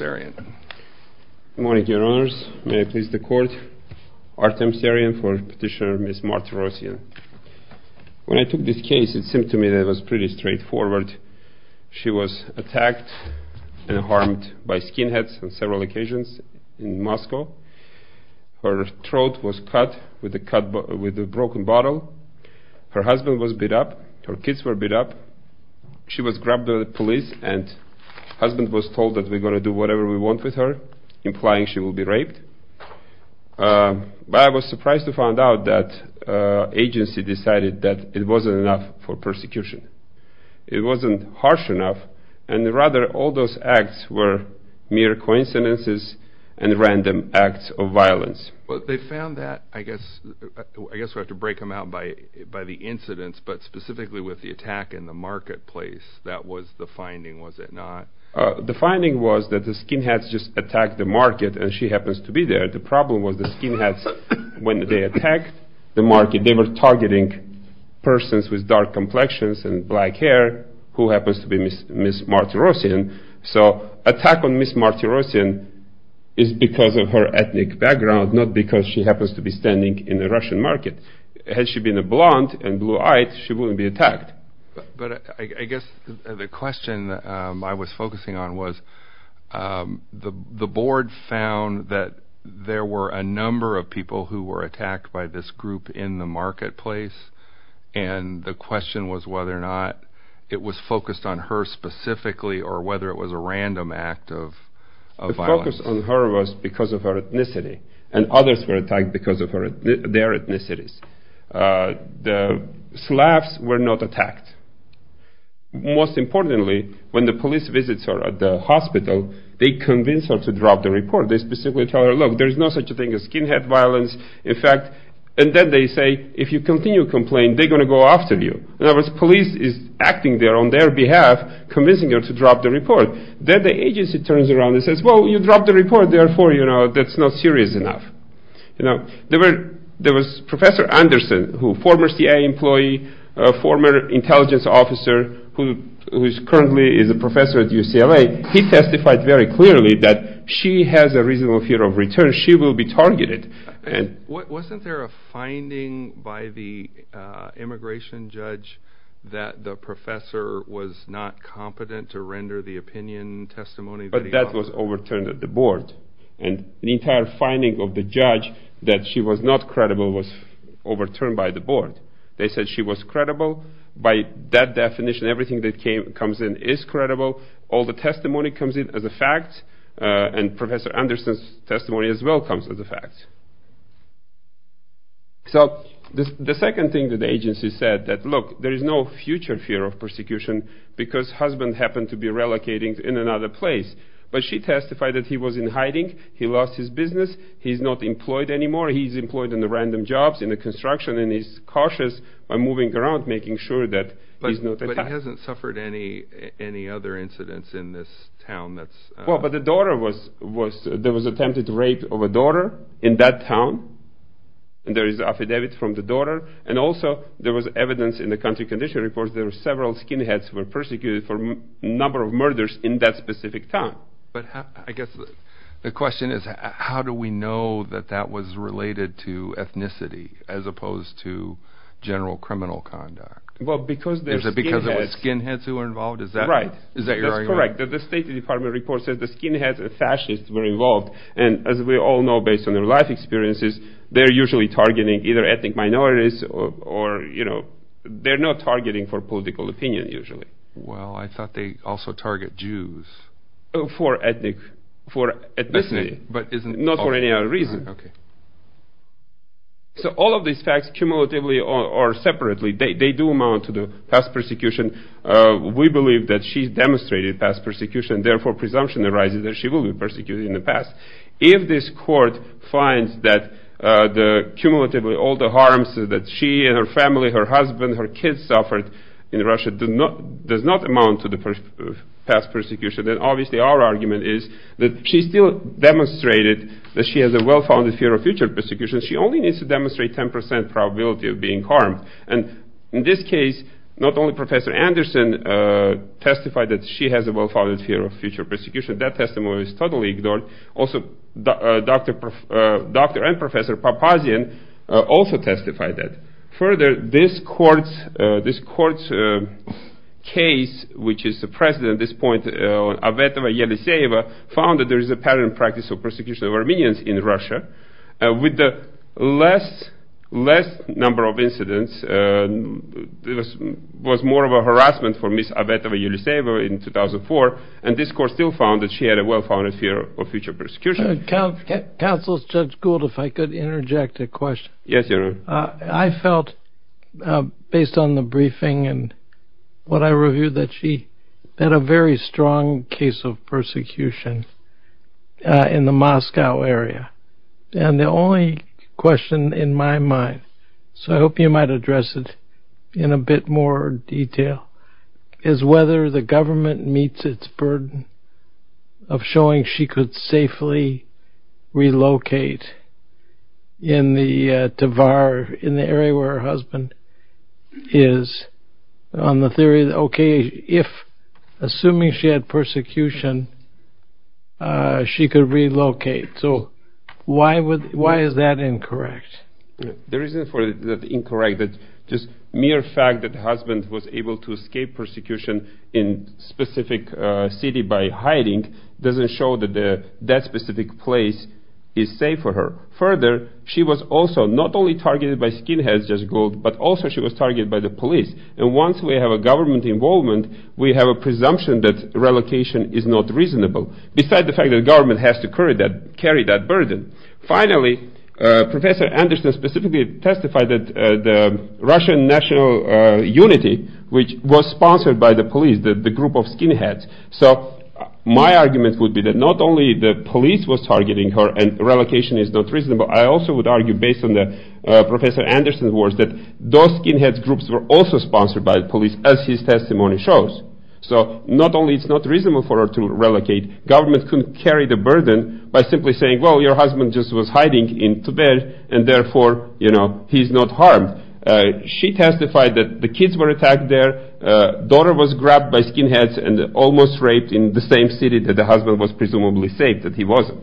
Good morning, Your Honors. May I please the Court? Artem Seryan for Petitioner Ms. Martirossian. When I took this case, it seemed to me that it was pretty straightforward. She was attacked and harmed by skinheads on several occasions in Moscow. Her throat was cut with a broken bottle. Her husband was beat up. Her kids were beat up. She was grabbed by the police and her husband was told that we're going to do whatever we want with her, implying she will be raped. But I was surprised to find out that the agency decided that it wasn't enough for persecution. It wasn't harsh enough, and rather all those acts were mere coincidences and random acts of violence. Well, they found that, I guess we'll have to break them out by the incidents, but specifically with the attack in the marketplace, that was the finding, was it not? The finding was that the skinheads just attacked the market and she happens to be there. The problem was the skinheads, when they attacked the market, they were targeting persons with dark complexions and black hair who happens to be Ms. Martirossian. So attack on Ms. Martirossian is because of her ethnic background, not because she happens to be standing in the Russian market. Had she been a blonde and blue-eyed, she wouldn't be attacked. But I guess the question I was focusing on was the board found that there were a number of people who were attacked by this group in the marketplace, and the question was whether or not it was focused on her specifically or whether it was a random act of violence. My focus on her was because of her ethnicity, and others were attacked because of their ethnicities. The slavs were not attacked. Most importantly, when the police visits her at the hospital, they convince her to drop the report. They specifically tell her, look, there's no such thing as skinhead violence. In fact, and then they say, if you continue to complain, they're going to go after you. In other words, police is acting there on their behalf, convincing her to drop the report. Then the agency turns around and says, well, you dropped the report, therefore that's not serious enough. There was Professor Anderson, a former CIA employee, a former intelligence officer, who currently is a professor at UCLA. He testified very clearly that she has a reasonable fear of return. She will be targeted. Wasn't there a finding by the immigration judge that the professor was not competent to render the opinion testimony? But that was overturned at the board, and the entire finding of the judge that she was not credible was overturned by the board. They said she was credible. By that definition, everything that comes in is credible. All the testimony comes in as a fact, and Professor Anderson's testimony as well comes as a fact. So the second thing that the agency said, that, look, there is no future fear of persecution because husband happened to be relocating in another place. But she testified that he was in hiding. He lost his business. He's not employed anymore. He's employed in the random jobs in the construction, and he's cautious by moving around, making sure that he's not attacked. He hasn't suffered any other incidents in this town? Well, but the daughter was, there was attempted rape of a daughter in that town. There is an affidavit from the daughter, and also there was evidence in the country condition report that several skinheads were persecuted for a number of murders in that specific town. But I guess the question is, how do we know that that was related to ethnicity as opposed to general criminal conduct? Well, because there's skinheads. Is it because it was skinheads who were involved? Is that right? Right. Is that your argument? That's correct. The State Department report says the skinheads, the fascists, were involved. And as we all know, based on their life experiences, they're usually targeting either ethnic minorities or, you know, they're not targeting for political opinion usually. Well, I thought they also target Jews. For ethnic, for ethnicity. But isn't culture. Not for any other reason. Okay. So all of these facts, cumulatively or separately, they do amount to the past persecution. We believe that she's demonstrated past persecution. Therefore, presumption arises that she will be persecuted in the past. If this court finds that the cumulatively all the harms that she and her family, her husband, her kids suffered in Russia does not amount to the past persecution, then obviously our argument is that she still demonstrated that she has a well-founded fear of future persecution. She only needs to demonstrate 10 percent probability of being harmed. And in this case, not only Professor Anderson testified that she has a well-founded fear of future persecution. That testimony is totally ignored. Also, Dr. and Professor Papazian also testified that. Further, this court's case, which is the precedent at this point, Avetova-Yeliseyeva found that there is a pattern and practice of persecution of Armenians in Russia. With the less number of incidents, it was more of a harassment for Ms. Avetova-Yeliseyeva in 2004. And this court still found that she had a well-founded fear of future persecution. Counsel Judge Gould, if I could interject a question. Yes, Your Honor. I felt, based on the briefing and what I reviewed, that she had a very strong case of persecution in the Moscow area. And the only question in my mind, so I hope you might address it in a bit more detail, is whether the government meets its burden of showing she could safely relocate in the Tver, in the area where her husband is, on the theory that, okay, if, assuming she had persecution, she could relocate. So why is that incorrect? The reason for that incorrect is just mere fact that the husband was able to escape persecution in a specific city by hiding doesn't show that that specific place is safe for her. Further, she was also not only targeted by skinheads, Judge Gould, but also she was targeted by the police. And once we have a government involvement, we have a presumption that relocation is not reasonable, besides the fact that the government has to carry that burden. Finally, Professor Anderson specifically testified that the Russian National Unity, which was sponsored by the police, the group of skinheads, so my argument would be that not only the police was targeting her and relocation is not reasonable, I also would argue, based on Professor Anderson's words, that those skinhead groups were also sponsored by the police, as his testimony shows. So not only is it not reasonable for her to relocate, government couldn't carry the burden by simply saying, well, your husband just was hiding in Tibet, and therefore, you know, he's not harmed. She testified that the kids were attacked there. Daughter was grabbed by skinheads and almost raped in the same city that the husband was presumably safe, that he wasn't.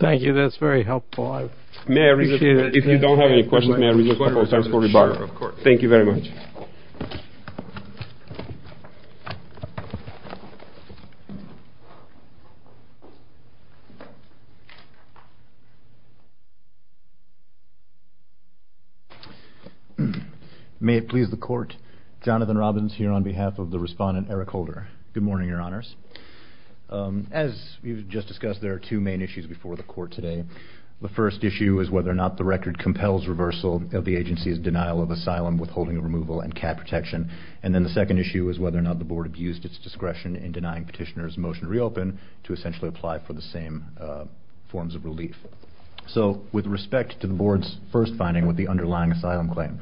Thank you. That's very helpful. If you don't have any questions, may I request that we start the rebuttal? Thank you very much. May it please the Court, Jonathan Robbins here on behalf of the respondent, Eric Holder. Good morning, Your Honors. As you just discussed, there are two main issues before the Court today. The first issue is whether or not the record compels reversal of the agency's denial of asylum, withholding of removal, and cap protection. And then the second issue is whether or not the Board abused its discretion in denying Petitioner's motion to reopen to essentially apply for the same forms of relief. So with respect to the Board's first finding with the underlying asylum claim,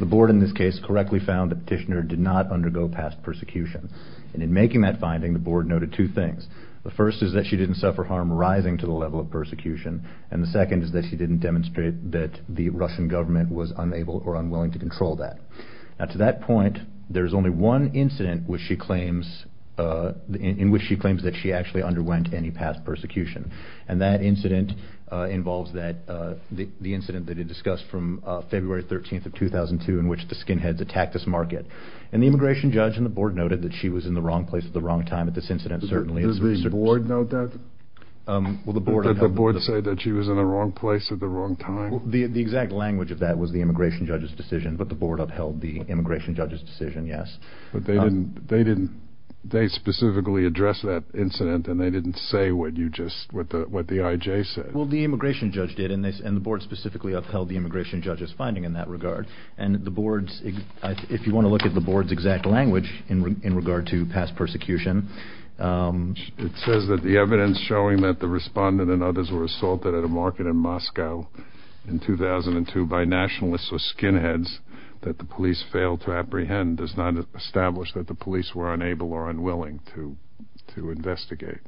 the Board in this case correctly found that Petitioner did not undergo past persecution. And in making that finding, the Board noted two things. The first is that she didn't suffer harm rising to the level of persecution, and the second is that she didn't demonstrate that the Russian government was unable or unwilling to control that. Now to that point, there is only one incident in which she claims that she actually underwent any past persecution. And that incident involves the incident that is discussed from February 13th of 2002 in which the skinheads attacked this market. And the Immigration Judge and the Board noted that she was in the wrong place at the wrong time at this incident, certainly. Did the Board note that? Did the Board say that she was in the wrong place at the wrong time? The exact language of that was the Immigration Judge's decision, but the Board upheld the Immigration Judge's decision, yes. But they specifically addressed that incident, and they didn't say what the IJ said. Well, the Immigration Judge did, and the Board specifically upheld the Immigration Judge's finding in that regard. And if you want to look at the Board's exact language in regard to past persecution, it says that the evidence showing that the respondent and others were assaulted at a market in Moscow in 2002 by nationalists or skinheads that the police failed to apprehend does not establish that the police were unable or unwilling to investigate.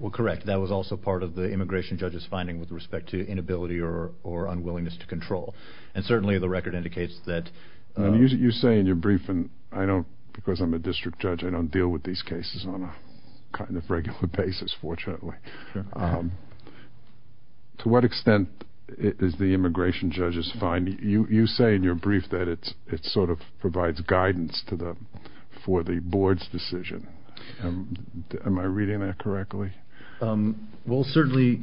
Well, correct. That was also part of the Immigration Judge's finding with respect to inability or unwillingness to control. And certainly the record indicates that. You say in your briefing, because I'm a district judge, I don't deal with these cases on a kind of regular basis, fortunately. To what extent is the Immigration Judge's finding? You say in your brief that it sort of provides guidance for the Board's decision. Am I reading that correctly? Well, certainly,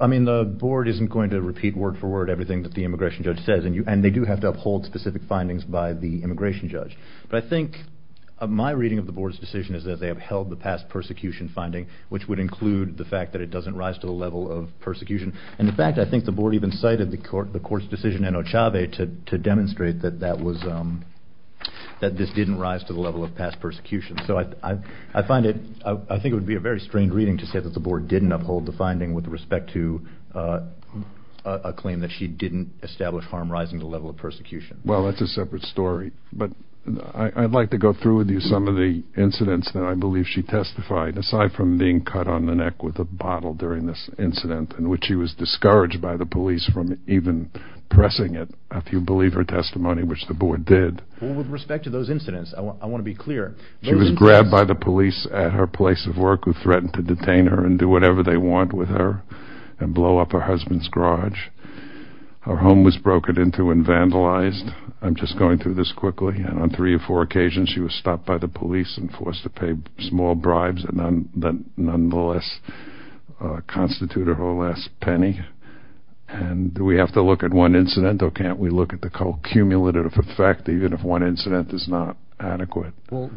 I mean, the Board isn't going to repeat word for word everything that the Immigration Judge says, and they do have to uphold specific findings by the Immigration Judge. But I think my reading of the Board's decision is that they upheld the past persecution finding, which would include the fact that it doesn't rise to the level of persecution. And in fact, I think the Board even cited the Court's decision in Ochave to demonstrate that this didn't rise to the level of past persecution. So I think it would be a very strange reading to say that the Board didn't uphold the finding with respect to a claim that she didn't establish harm rising to the level of persecution. Well, that's a separate story. But I'd like to go through with you some of the incidents that I believe she testified, aside from being cut on the neck with a bottle during this incident, in which she was discouraged by the police from even pressing it, if you believe her testimony, which the Board did. Well, with respect to those incidents, I want to be clear. She was grabbed by the police at her place of work, who threatened to detain her and do whatever they want with her and blow up her husband's garage. Her home was broken into and vandalized. I'm just going through this quickly. And on three or four occasions, she was stopped by the police and forced to pay small bribes that nonetheless constituted her last penny. And do we have to look at one incident or can't we look at the cumulative effect, even if one incident is not adequate? Well,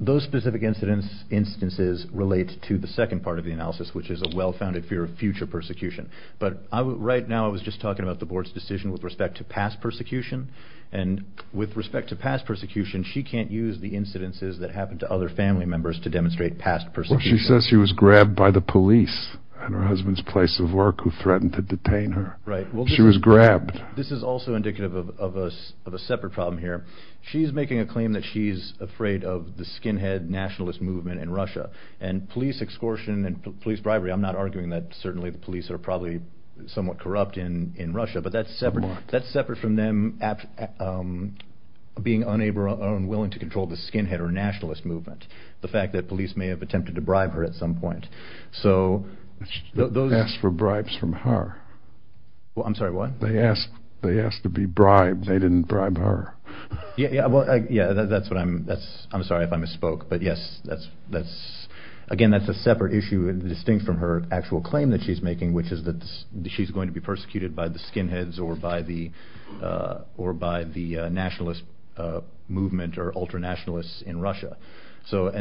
those specific instances relate to the second part of the analysis, which is a well-founded fear of future persecution. But right now I was just talking about the Board's decision with respect to past persecution. And with respect to past persecution, she can't use the incidences that happened to other family members to demonstrate past persecution. Well, she says she was grabbed by the police at her husband's place of work, who threatened to detain her. Right. She was grabbed. This is also indicative of a separate problem here. She's making a claim that she's afraid of the skinhead nationalist movement in Russia. And police extortion and police bribery, I'm not arguing that certainly the police are probably somewhat corrupt in Russia, but that's separate from them being unwilling to control the skinhead or nationalist movement. The fact that police may have attempted to bribe her at some point. They asked for bribes from her. I'm sorry, what? They asked to be bribed. They didn't bribe her. Yeah, well, yeah, that's what I'm – I'm sorry if I misspoke. But, yes, that's – again, that's a separate issue distinct from her actual claim that she's making, which is that she's going to be persecuted by the skinheads or by the nationalist movement or ultra-nationalists in Russia. So,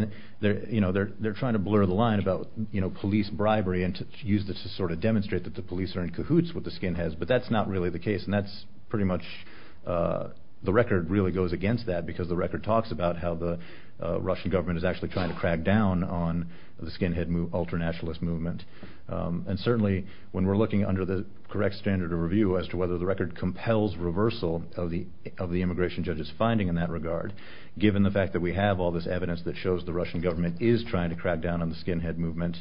you know, they're trying to blur the line about, you know, police bribery and to use this to sort of demonstrate that the police are in cahoots with the skinheads, but that's not really the case, and that's pretty much – the record really goes against that because the record talks about how the Russian government is actually trying to crack down on the skinhead, ultra-nationalist movement. And certainly when we're looking under the correct standard of review as to whether the record compels reversal of the immigration judge's finding in that regard, given the fact that we have all this evidence that shows the Russian government is trying to crack down on the skinhead movement,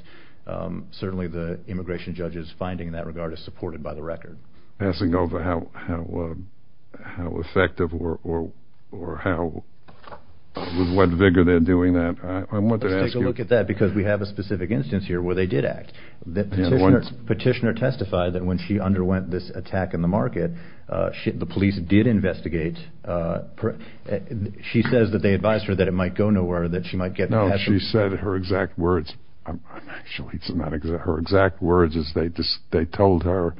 certainly the immigration judge's finding in that regard is supported by the record. Passing over how effective or how – with what vigor they're doing that, I want to ask you – Let's take a look at that because we have a specific instance here where they did act. The petitioner testified that when she underwent this attack in the market, the police did investigate. She says that they advised her that it might go nowhere, that she might get – No, she said her exact words. Actually, it's not exact. Her exact words is they told her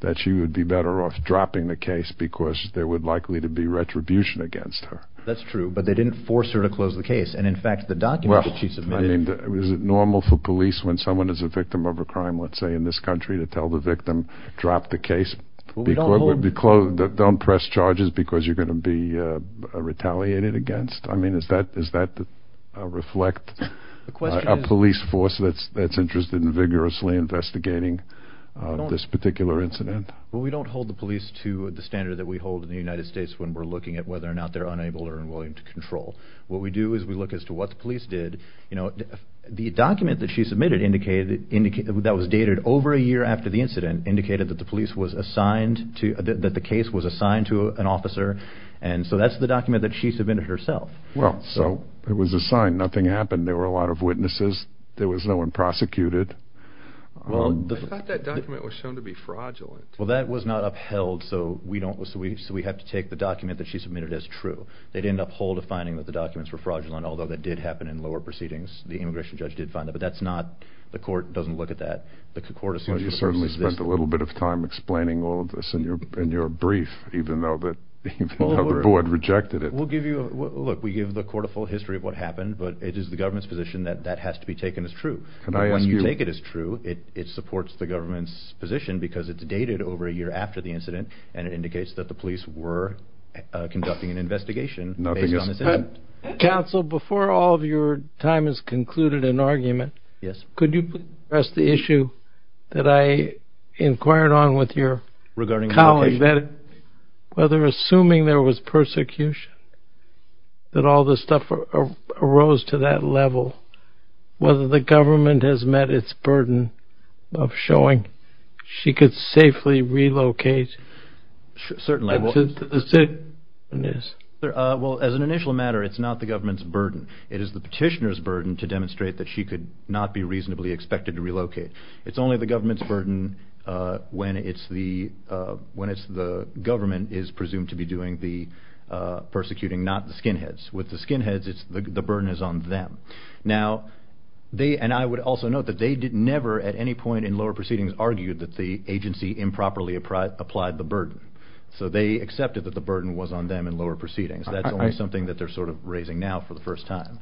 that she would be better off dropping the case because there would likely to be retribution against her. That's true, but they didn't force her to close the case. And in fact, the documents that she submitted – Well, I mean, is it normal for police, when someone is a victim of a crime, let's say in this country, to tell the victim drop the case? Don't press charges because you're going to be retaliated against? I mean, does that reflect a police force that's interested in vigorously investigating this particular incident? Well, we don't hold the police to the standard that we hold in the United States when we're looking at whether or not they're unable or unwilling to control. What we do is we look as to what the police did. The document that she submitted that was dated over a year after the incident indicated that the case was assigned to an officer, and so that's the document that she submitted herself. Well, so it was assigned. Nothing happened. There were a lot of witnesses. There was no one prosecuted. I thought that document was shown to be fraudulent. Well, that was not upheld, so we have to take the document that she submitted as true. They didn't uphold a finding that the documents were fraudulent, although that did happen in lower proceedings. The immigration judge did find that, but the court doesn't look at that. Well, you certainly spent a little bit of time explaining all of this in your brief, even though the board rejected it. Look, we give the court a full history of what happened, but it is the government's position that that has to be taken as true. When you take it as true, it supports the government's position because it's dated over a year after the incident, and it indicates that the police were conducting an investigation based on this incident. Counsel, before all of your time has concluded in argument, could you please address the issue that I inquired on with your colleague, whether assuming there was persecution, that all this stuff arose to that level, whether the government has met its burden of showing she could safely relocate. Certainly. Yes. Well, as an initial matter, it's not the government's burden. It is the petitioner's burden to demonstrate that she could not be reasonably expected to relocate. It's only the government's burden when it's the government is presumed to be doing the persecuting, not the skinheads. With the skinheads, the burden is on them. Now, and I would also note that they never at any point in lower proceedings argued that the agency improperly applied the burden, so they accepted that the burden was on them in lower proceedings. That's only something that they're sort of raising now for the first time.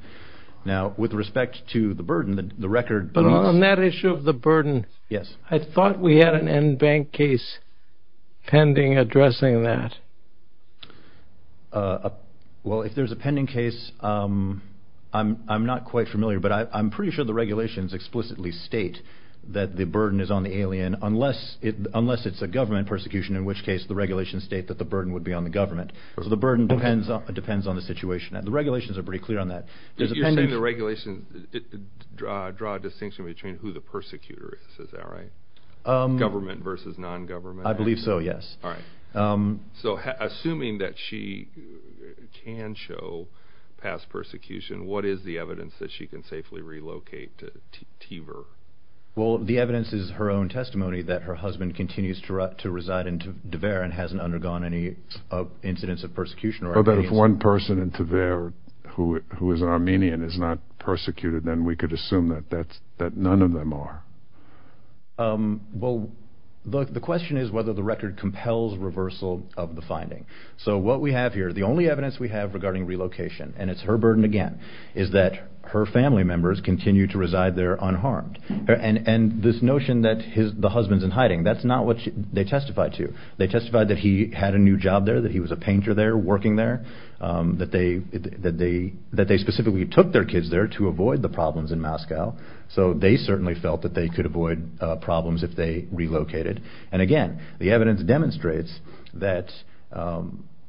Now, with respect to the burden, the record— But on that issue of the burden, I thought we had an en banc case pending addressing that. Well, if there's a pending case, I'm not quite familiar, but I'm pretty sure the regulations explicitly state that the burden is on the alien, unless it's a government persecution, in which case the regulations state that the burden would be on the government. So the burden depends on the situation. The regulations are pretty clear on that. You're saying the regulations draw a distinction between who the persecutor is. Is that right? Government versus non-government. I believe so, yes. All right. So assuming that she can show past persecution, what is the evidence that she can safely relocate to Tiver? Well, the evidence is her own testimony that her husband continues to reside in Tiver and hasn't undergone any incidents of persecution. But if one person in Tiver who is Armenian is not persecuted, then we could assume that none of them are. Well, the question is whether the record compels reversal of the finding. So what we have here, the only evidence we have regarding relocation, and it's her burden again, is that her family members continue to reside there unharmed. And this notion that the husband's in hiding, that's not what they testify to. They testify that he had a new job there, that he was a painter there, working there, that they specifically took their kids there to avoid the problems in Moscow. So they certainly felt that they could avoid problems if they relocated. And, again, the evidence demonstrates that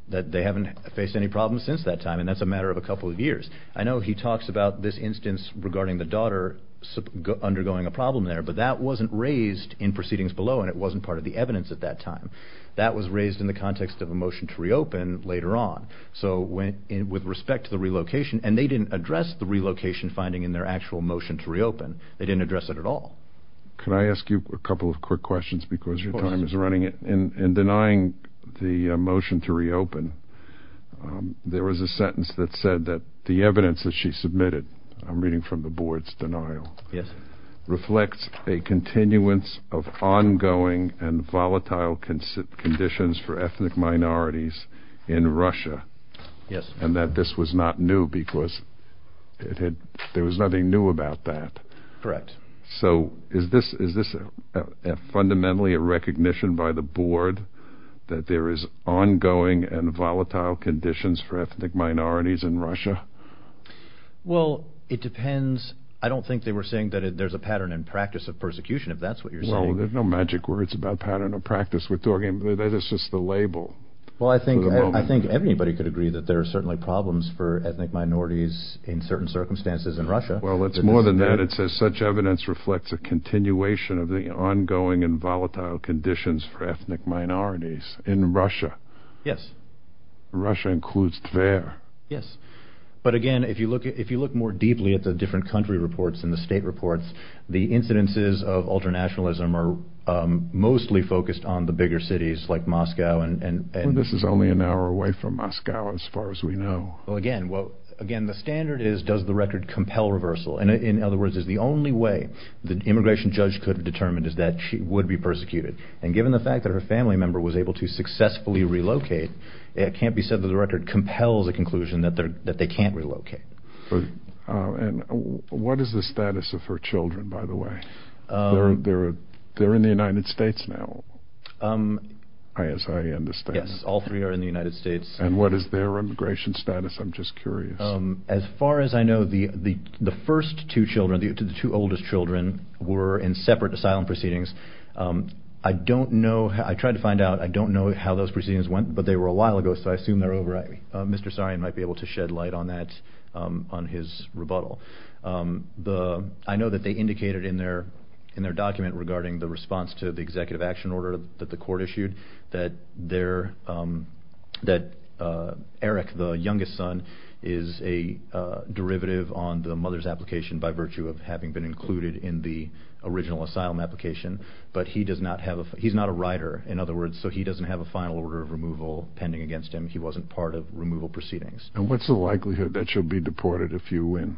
they haven't faced any problems since that time, and that's a matter of a couple of years. I know he talks about this instance regarding the daughter undergoing a problem there, but that wasn't raised in proceedings below, and it wasn't part of the evidence at that time. That was raised in the context of a motion to reopen later on. So with respect to the relocation, and they didn't address the relocation finding in their actual motion to reopen. They didn't address it at all. Can I ask you a couple of quick questions because your time is running out? Of course. In denying the motion to reopen, there was a sentence that said that the evidence that she submitted, I'm reading from the board's denial, reflects a continuance of ongoing and volatile conditions for ethnic minorities in Russia. Yes. And that this was not new because there was nothing new about that. Correct. So is this fundamentally a recognition by the board that there is ongoing and volatile conditions for ethnic minorities in Russia? Well, it depends. I don't think they were saying that there's a pattern and practice of persecution, if that's what you're saying. Well, there's no magic words about pattern or practice. We're talking that it's just the label. Well, I think everybody could agree that there are certainly problems for ethnic minorities in certain circumstances in Russia. Well, it's more than that. It says such evidence reflects a continuation of the ongoing and volatile conditions for ethnic minorities in Russia. Yes. Russia includes Tver. Yes. But, again, if you look more deeply at the different country reports and the state reports, the incidences of ultranationalism are mostly focused on the bigger cities like Moscow. Well, this is only an hour away from Moscow, as far as we know. Well, again, the standard is, does the record compel reversal? In other words, is the only way the immigration judge could have determined is that she would be persecuted. And given the fact that her family member was able to successfully relocate, it can't be said that the record compels a conclusion that they can't relocate. And what is the status of her children, by the way? They're in the United States now, as I understand. Yes, all three are in the United States. And what is their immigration status? I'm just curious. As far as I know, the first two children, the two oldest children, were in separate asylum proceedings. I don't know. I tried to find out. I don't know how those proceedings went, but they were a while ago, so I assume they're over. Mr. Sarian might be able to shed light on that, on his rebuttal. I know that they indicated in their document regarding the response to the executive action order that the court issued that Eric, the youngest son, is a derivative on the mother's application by virtue of having been included in the original asylum application. But he's not a rider, in other words, so he doesn't have a final order of removal pending against him. He wasn't part of removal proceedings. And what's the likelihood that she'll be deported if you win?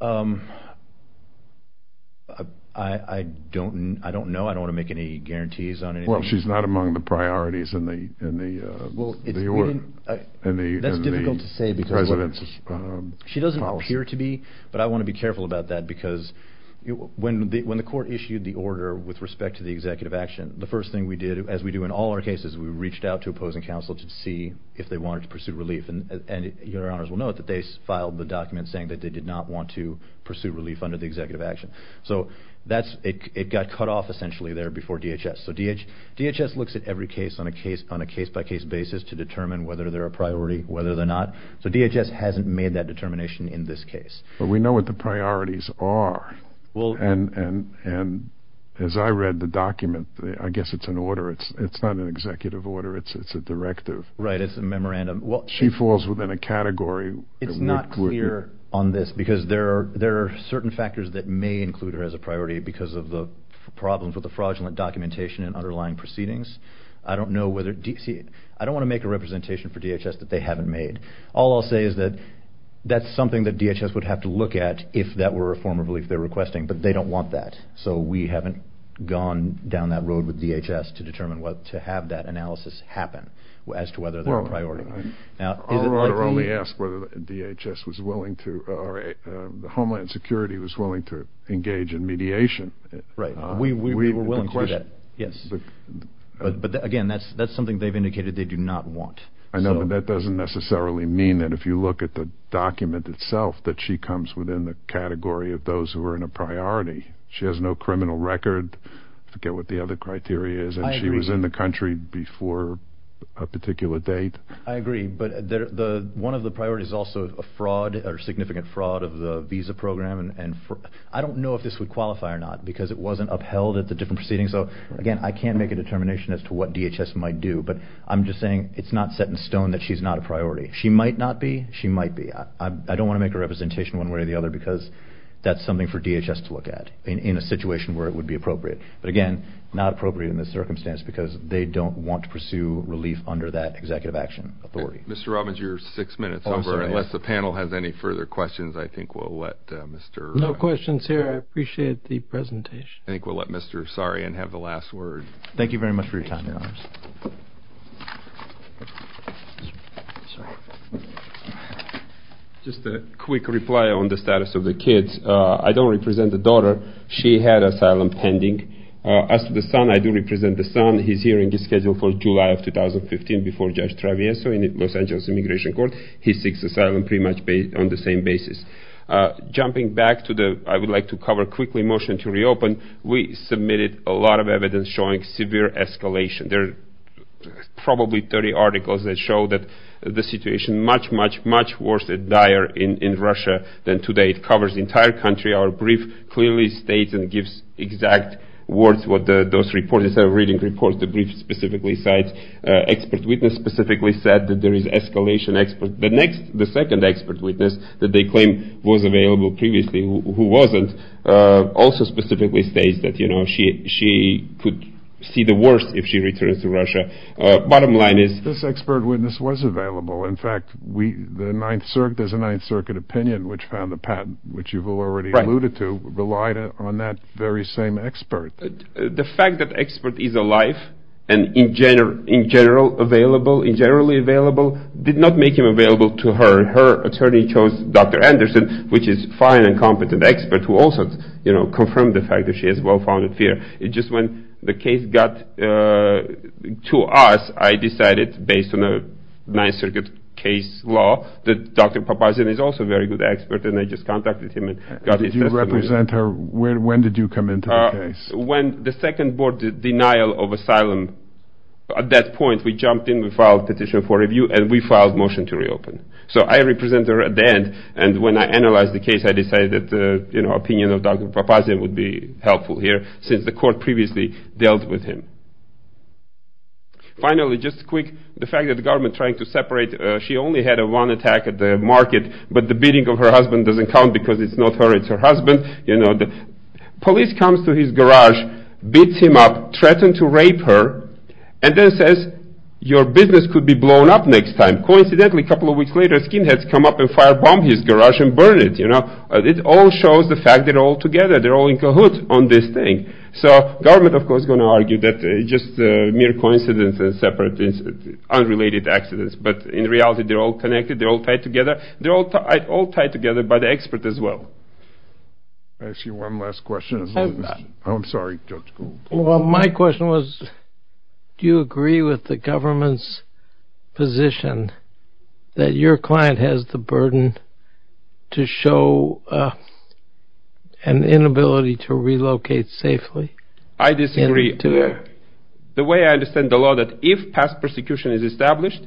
I don't know. I don't want to make any guarantees on anything. Well, she's not among the priorities in the president's policy. She doesn't appear to be, but I want to be careful about that because when the court issued the order with respect to the executive action, the first thing we did, as we do in all our cases, we reached out to opposing counsel to see if they wanted to pursue relief. And your honors will note that they filed the document saying that they did not want to pursue relief under the executive action. So it got cut off, essentially, there before DHS. So DHS looks at every case on a case-by-case basis to determine whether they're a priority, whether they're not. So DHS hasn't made that determination in this case. But we know what the priorities are. And as I read the document, I guess it's an order. It's not an executive order. It's a directive. Right, it's a memorandum. She falls within a category. It's not clear on this because there are certain factors that may include her as a priority because of the problems with the fraudulent documentation and underlying proceedings. I don't want to make a representation for DHS that they haven't made. All I'll say is that that's something that DHS would have to look at if that were a form of relief they're requesting, but they don't want that. So we haven't gone down that road with DHS to determine what to have that analysis happen as to whether they're a priority. Our order only asks whether DHS was willing to or Homeland Security was willing to engage in mediation. Right, we were willing to do that. Yes. But, again, that's something they've indicated they do not want. I know, but that doesn't necessarily mean that if you look at the document itself that she comes within the category of those who are in a priority. She has no criminal record. Forget what the other criteria is. And she was in the country before a particular date. I agree. But one of the priorities is also a fraud or significant fraud of the visa program. I don't know if this would qualify or not because it wasn't upheld at the different proceedings. So, again, I can't make a determination as to what DHS might do, but I'm just saying it's not set in stone that she's not a priority. She might not be. She might be. I don't want to make a representation one way or the other because that's something for DHS to look at in a situation where it would be appropriate. But, again, not appropriate in this circumstance because they don't want to pursue relief under that executive action authority. Mr. Robbins, you're six minutes over. I'm sorry. No questions here. I appreciate the presentation. I think we'll let Mr. Sarian have the last word. Thank you very much for your time, Your Honors. Just a quick reply on the status of the kids. I don't represent the daughter. She had asylum pending. As for the son, I do represent the son. His hearing is scheduled for July of 2015 before Judge Travieso in the Los Angeles Immigration Court. He seeks asylum pretty much on the same basis. Jumping back to the I-would-like-to-cover-quickly motion to reopen, we submitted a lot of evidence showing severe escalation. There are probably 30 articles that show that the situation is much, much, much worse and dire in Russia than today. It covers the entire country. Our brief clearly states and gives exact words what those reports are, reading reports. The brief specifically said, expert witness specifically said that there is escalation. The second expert witness that they claim was available previously, who wasn't, also specifically states that she could see the worst if she returns to Russia. Bottom line is this expert witness was available. In fact, there's a Ninth Circuit opinion which found the patent, which you've already alluded to, relied on that very same expert. The fact that expert is alive and in general available, generally available, did not make him available to her. Her attorney chose Dr. Anderson, which is a fine and competent expert who also confirmed the fact that she has well-founded fear. It's just when the case got to us, I decided, based on the Ninth Circuit case law, that Dr. Papazian is also a very good expert. And I just contacted him and got his testimony. When did you come into the case? When the second board did denial of asylum, at that point, we jumped in, we filed petition for review, and we filed motion to reopen. So I represent her at the end, and when I analyzed the case, I decided that, you know, opinion of Dr. Papazian would be helpful here, since the court previously dealt with him. Finally, just quick, the fact that the government trying to separate, she only had one attack at the market, but the beating of her husband doesn't count because it's not her, it's her husband, you know. Police comes to his garage, beats him up, threatens to rape her, and then says, your business could be blown up next time. Coincidentally, a couple of weeks later, skinheads come up and fire bomb his garage and burn it, you know. It all shows the fact that they're all together, they're all in cahoots on this thing. So government, of course, is going to argue that it's just a mere coincidence and separate, unrelated accidents. But in reality, they're all connected, they're all tied together, they're all tied together by the expert as well. I see one last question. I'm sorry, Judge. Well, my question was, do you agree with the government's position that your client has the burden to show an inability to relocate safely? I disagree. The way I understand the law, that if past persecution is established,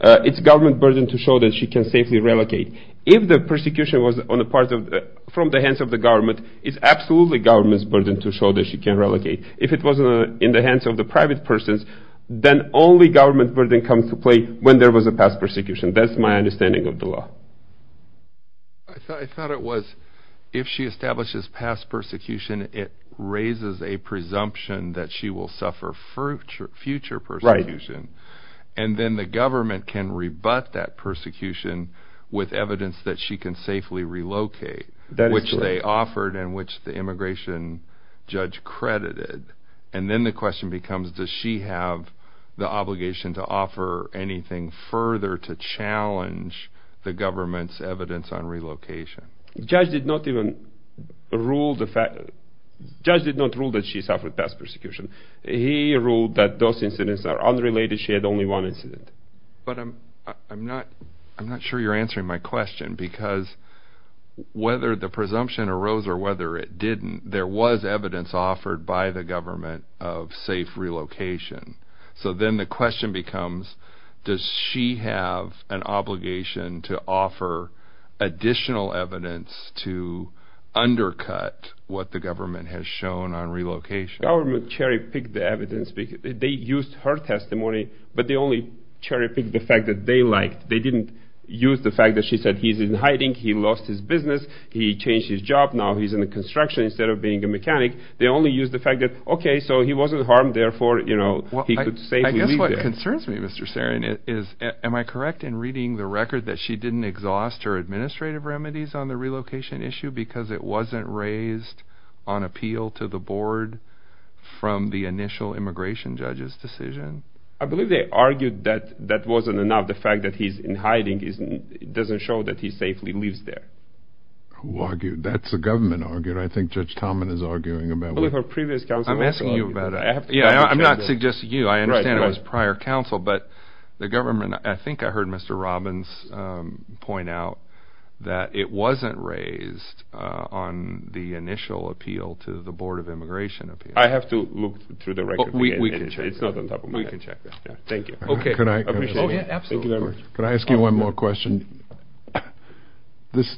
it's government burden to show that she can safely relocate. If the persecution was on the part of, from the hands of the government, it's absolutely government's burden to show that she can relocate. If it was in the hands of the private persons, then only government burden comes to play when there was a past persecution. That's my understanding of the law. I thought it was, if she establishes past persecution, it raises a presumption that she will suffer future persecution. And then the government can rebut that persecution with evidence that she can safely relocate, which they offered and which the immigration judge credited. And then the question becomes, does she have the obligation to offer anything further to challenge the government's evidence on relocation? The judge did not rule that she suffered past persecution. He ruled that those incidents are unrelated, she had only one incident. But I'm not sure you're answering my question, because whether the presumption arose or whether it didn't, there was evidence offered by the government of safe relocation. So then the question becomes, does she have an obligation to offer additional evidence to undercut what the government has shown on relocation? The government cherry-picked the evidence. They used her testimony, but they only cherry-picked the fact that they liked. They didn't use the fact that she said he's in hiding, he lost his business, he changed his job, now he's in construction instead of being a mechanic. They only used the fact that, okay, so he wasn't harmed, therefore he could safely leave there. I guess what concerns me, Mr. Sarian, is am I correct in reading the record that she didn't exhaust her administrative remedies on the relocation issue because it wasn't raised on appeal to the board from the initial immigration judge's decision? I believe they argued that that wasn't enough, the fact that he's in hiding doesn't show that he safely lives there. Who argued? That's a government argument. I think Judge Tomlin is arguing about it. I believe her previous counsel also argued that. I'm not suggesting you, I understand it was prior counsel, but the government, I think I heard Mr. Robbins point out that it wasn't raised on the initial appeal to the board of immigration appeal. I have to look through the record again. We can check that. Thank you. Can I ask you one more question? As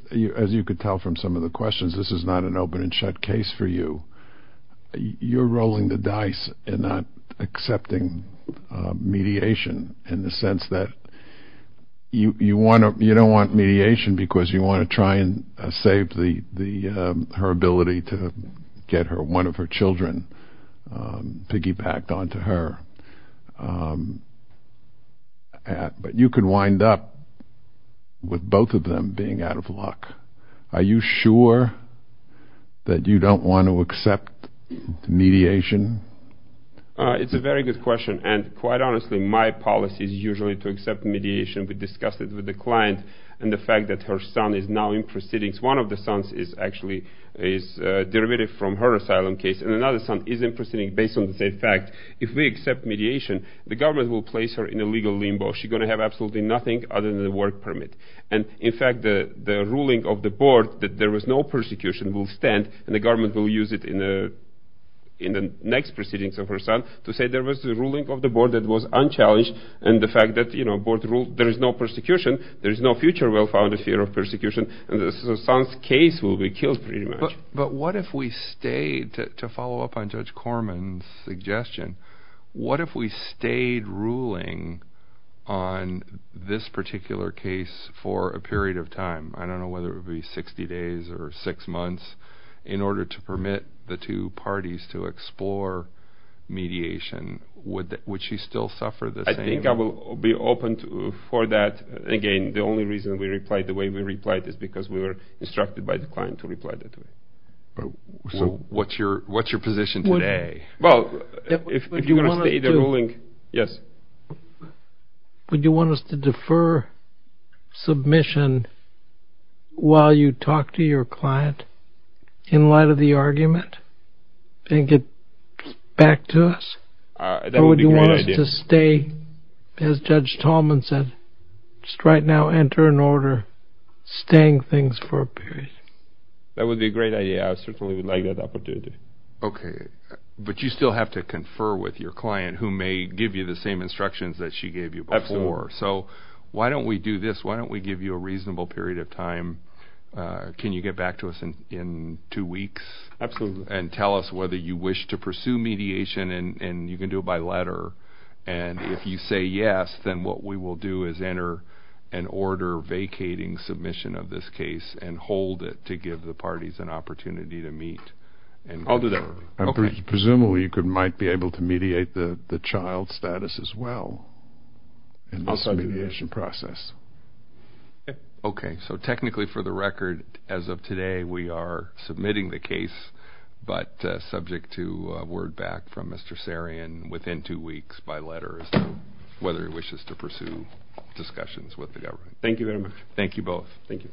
you can tell from some of the questions, this is not an open and shut case for you. You're rolling the dice and not accepting mediation in the sense that you don't want mediation because you want to try and save her ability to get one of her children piggybacked onto her. But you could wind up with both of them being out of luck. Are you sure that you don't want to accept mediation? It's a very good question, and quite honestly, my policy is usually to accept mediation. We discussed it with the client and the fact that her son is now in proceedings. One of the sons is actually derivative from her asylum case, and another son is in proceedings. Based on the same fact, if we accept mediation, the government will place her in a legal limbo. She's going to have absolutely nothing other than a work permit. In fact, the ruling of the board that there was no persecution will stand, and the government will use it in the next proceedings of her son to say there was a ruling of the board that was unchallenged, and the fact that the board ruled there is no persecution, there is no future well-founded fear of persecution, and the son's case will be killed pretty much. But what if we stayed, to follow up on Judge Corman's suggestion, what if we stayed ruling on this particular case for a period of time? I don't know whether it would be 60 days or 6 months, in order to permit the two parties to explore mediation. Would she still suffer the same? I think I will be open for that. Again, the only reason we replied the way we replied is because we were instructed by the client to reply that way. So what's your position today? Well, if you're going to stay the ruling... Would you want us to defer submission while you talk to your client, in light of the argument, and get back to us? Or would you want us to stay, as Judge Corman said, just right now, enter an order, staying things for a period? That would be a great idea, I certainly would like that opportunity. Okay, but you still have to confer with your client, who may give you the same instructions that she gave you before. Absolutely. So, why don't we do this, why don't we give you a reasonable period of time, can you get back to us in two weeks? Absolutely. And tell us whether you wish to pursue mediation, and you can do it by letter. And if you say yes, then what we will do is enter an order vacating submission of this case, and hold it to give the parties an opportunity to meet. I'll do that. Presumably you might be able to mediate the child's status as well, in this mediation process. Okay, so technically for the record, as of today, we are submitting the case, but subject to word back from Mr. Sarian within two weeks by letter, as to whether he wishes to pursue discussions with the government. Thank you very much. Thank you both. Thank you.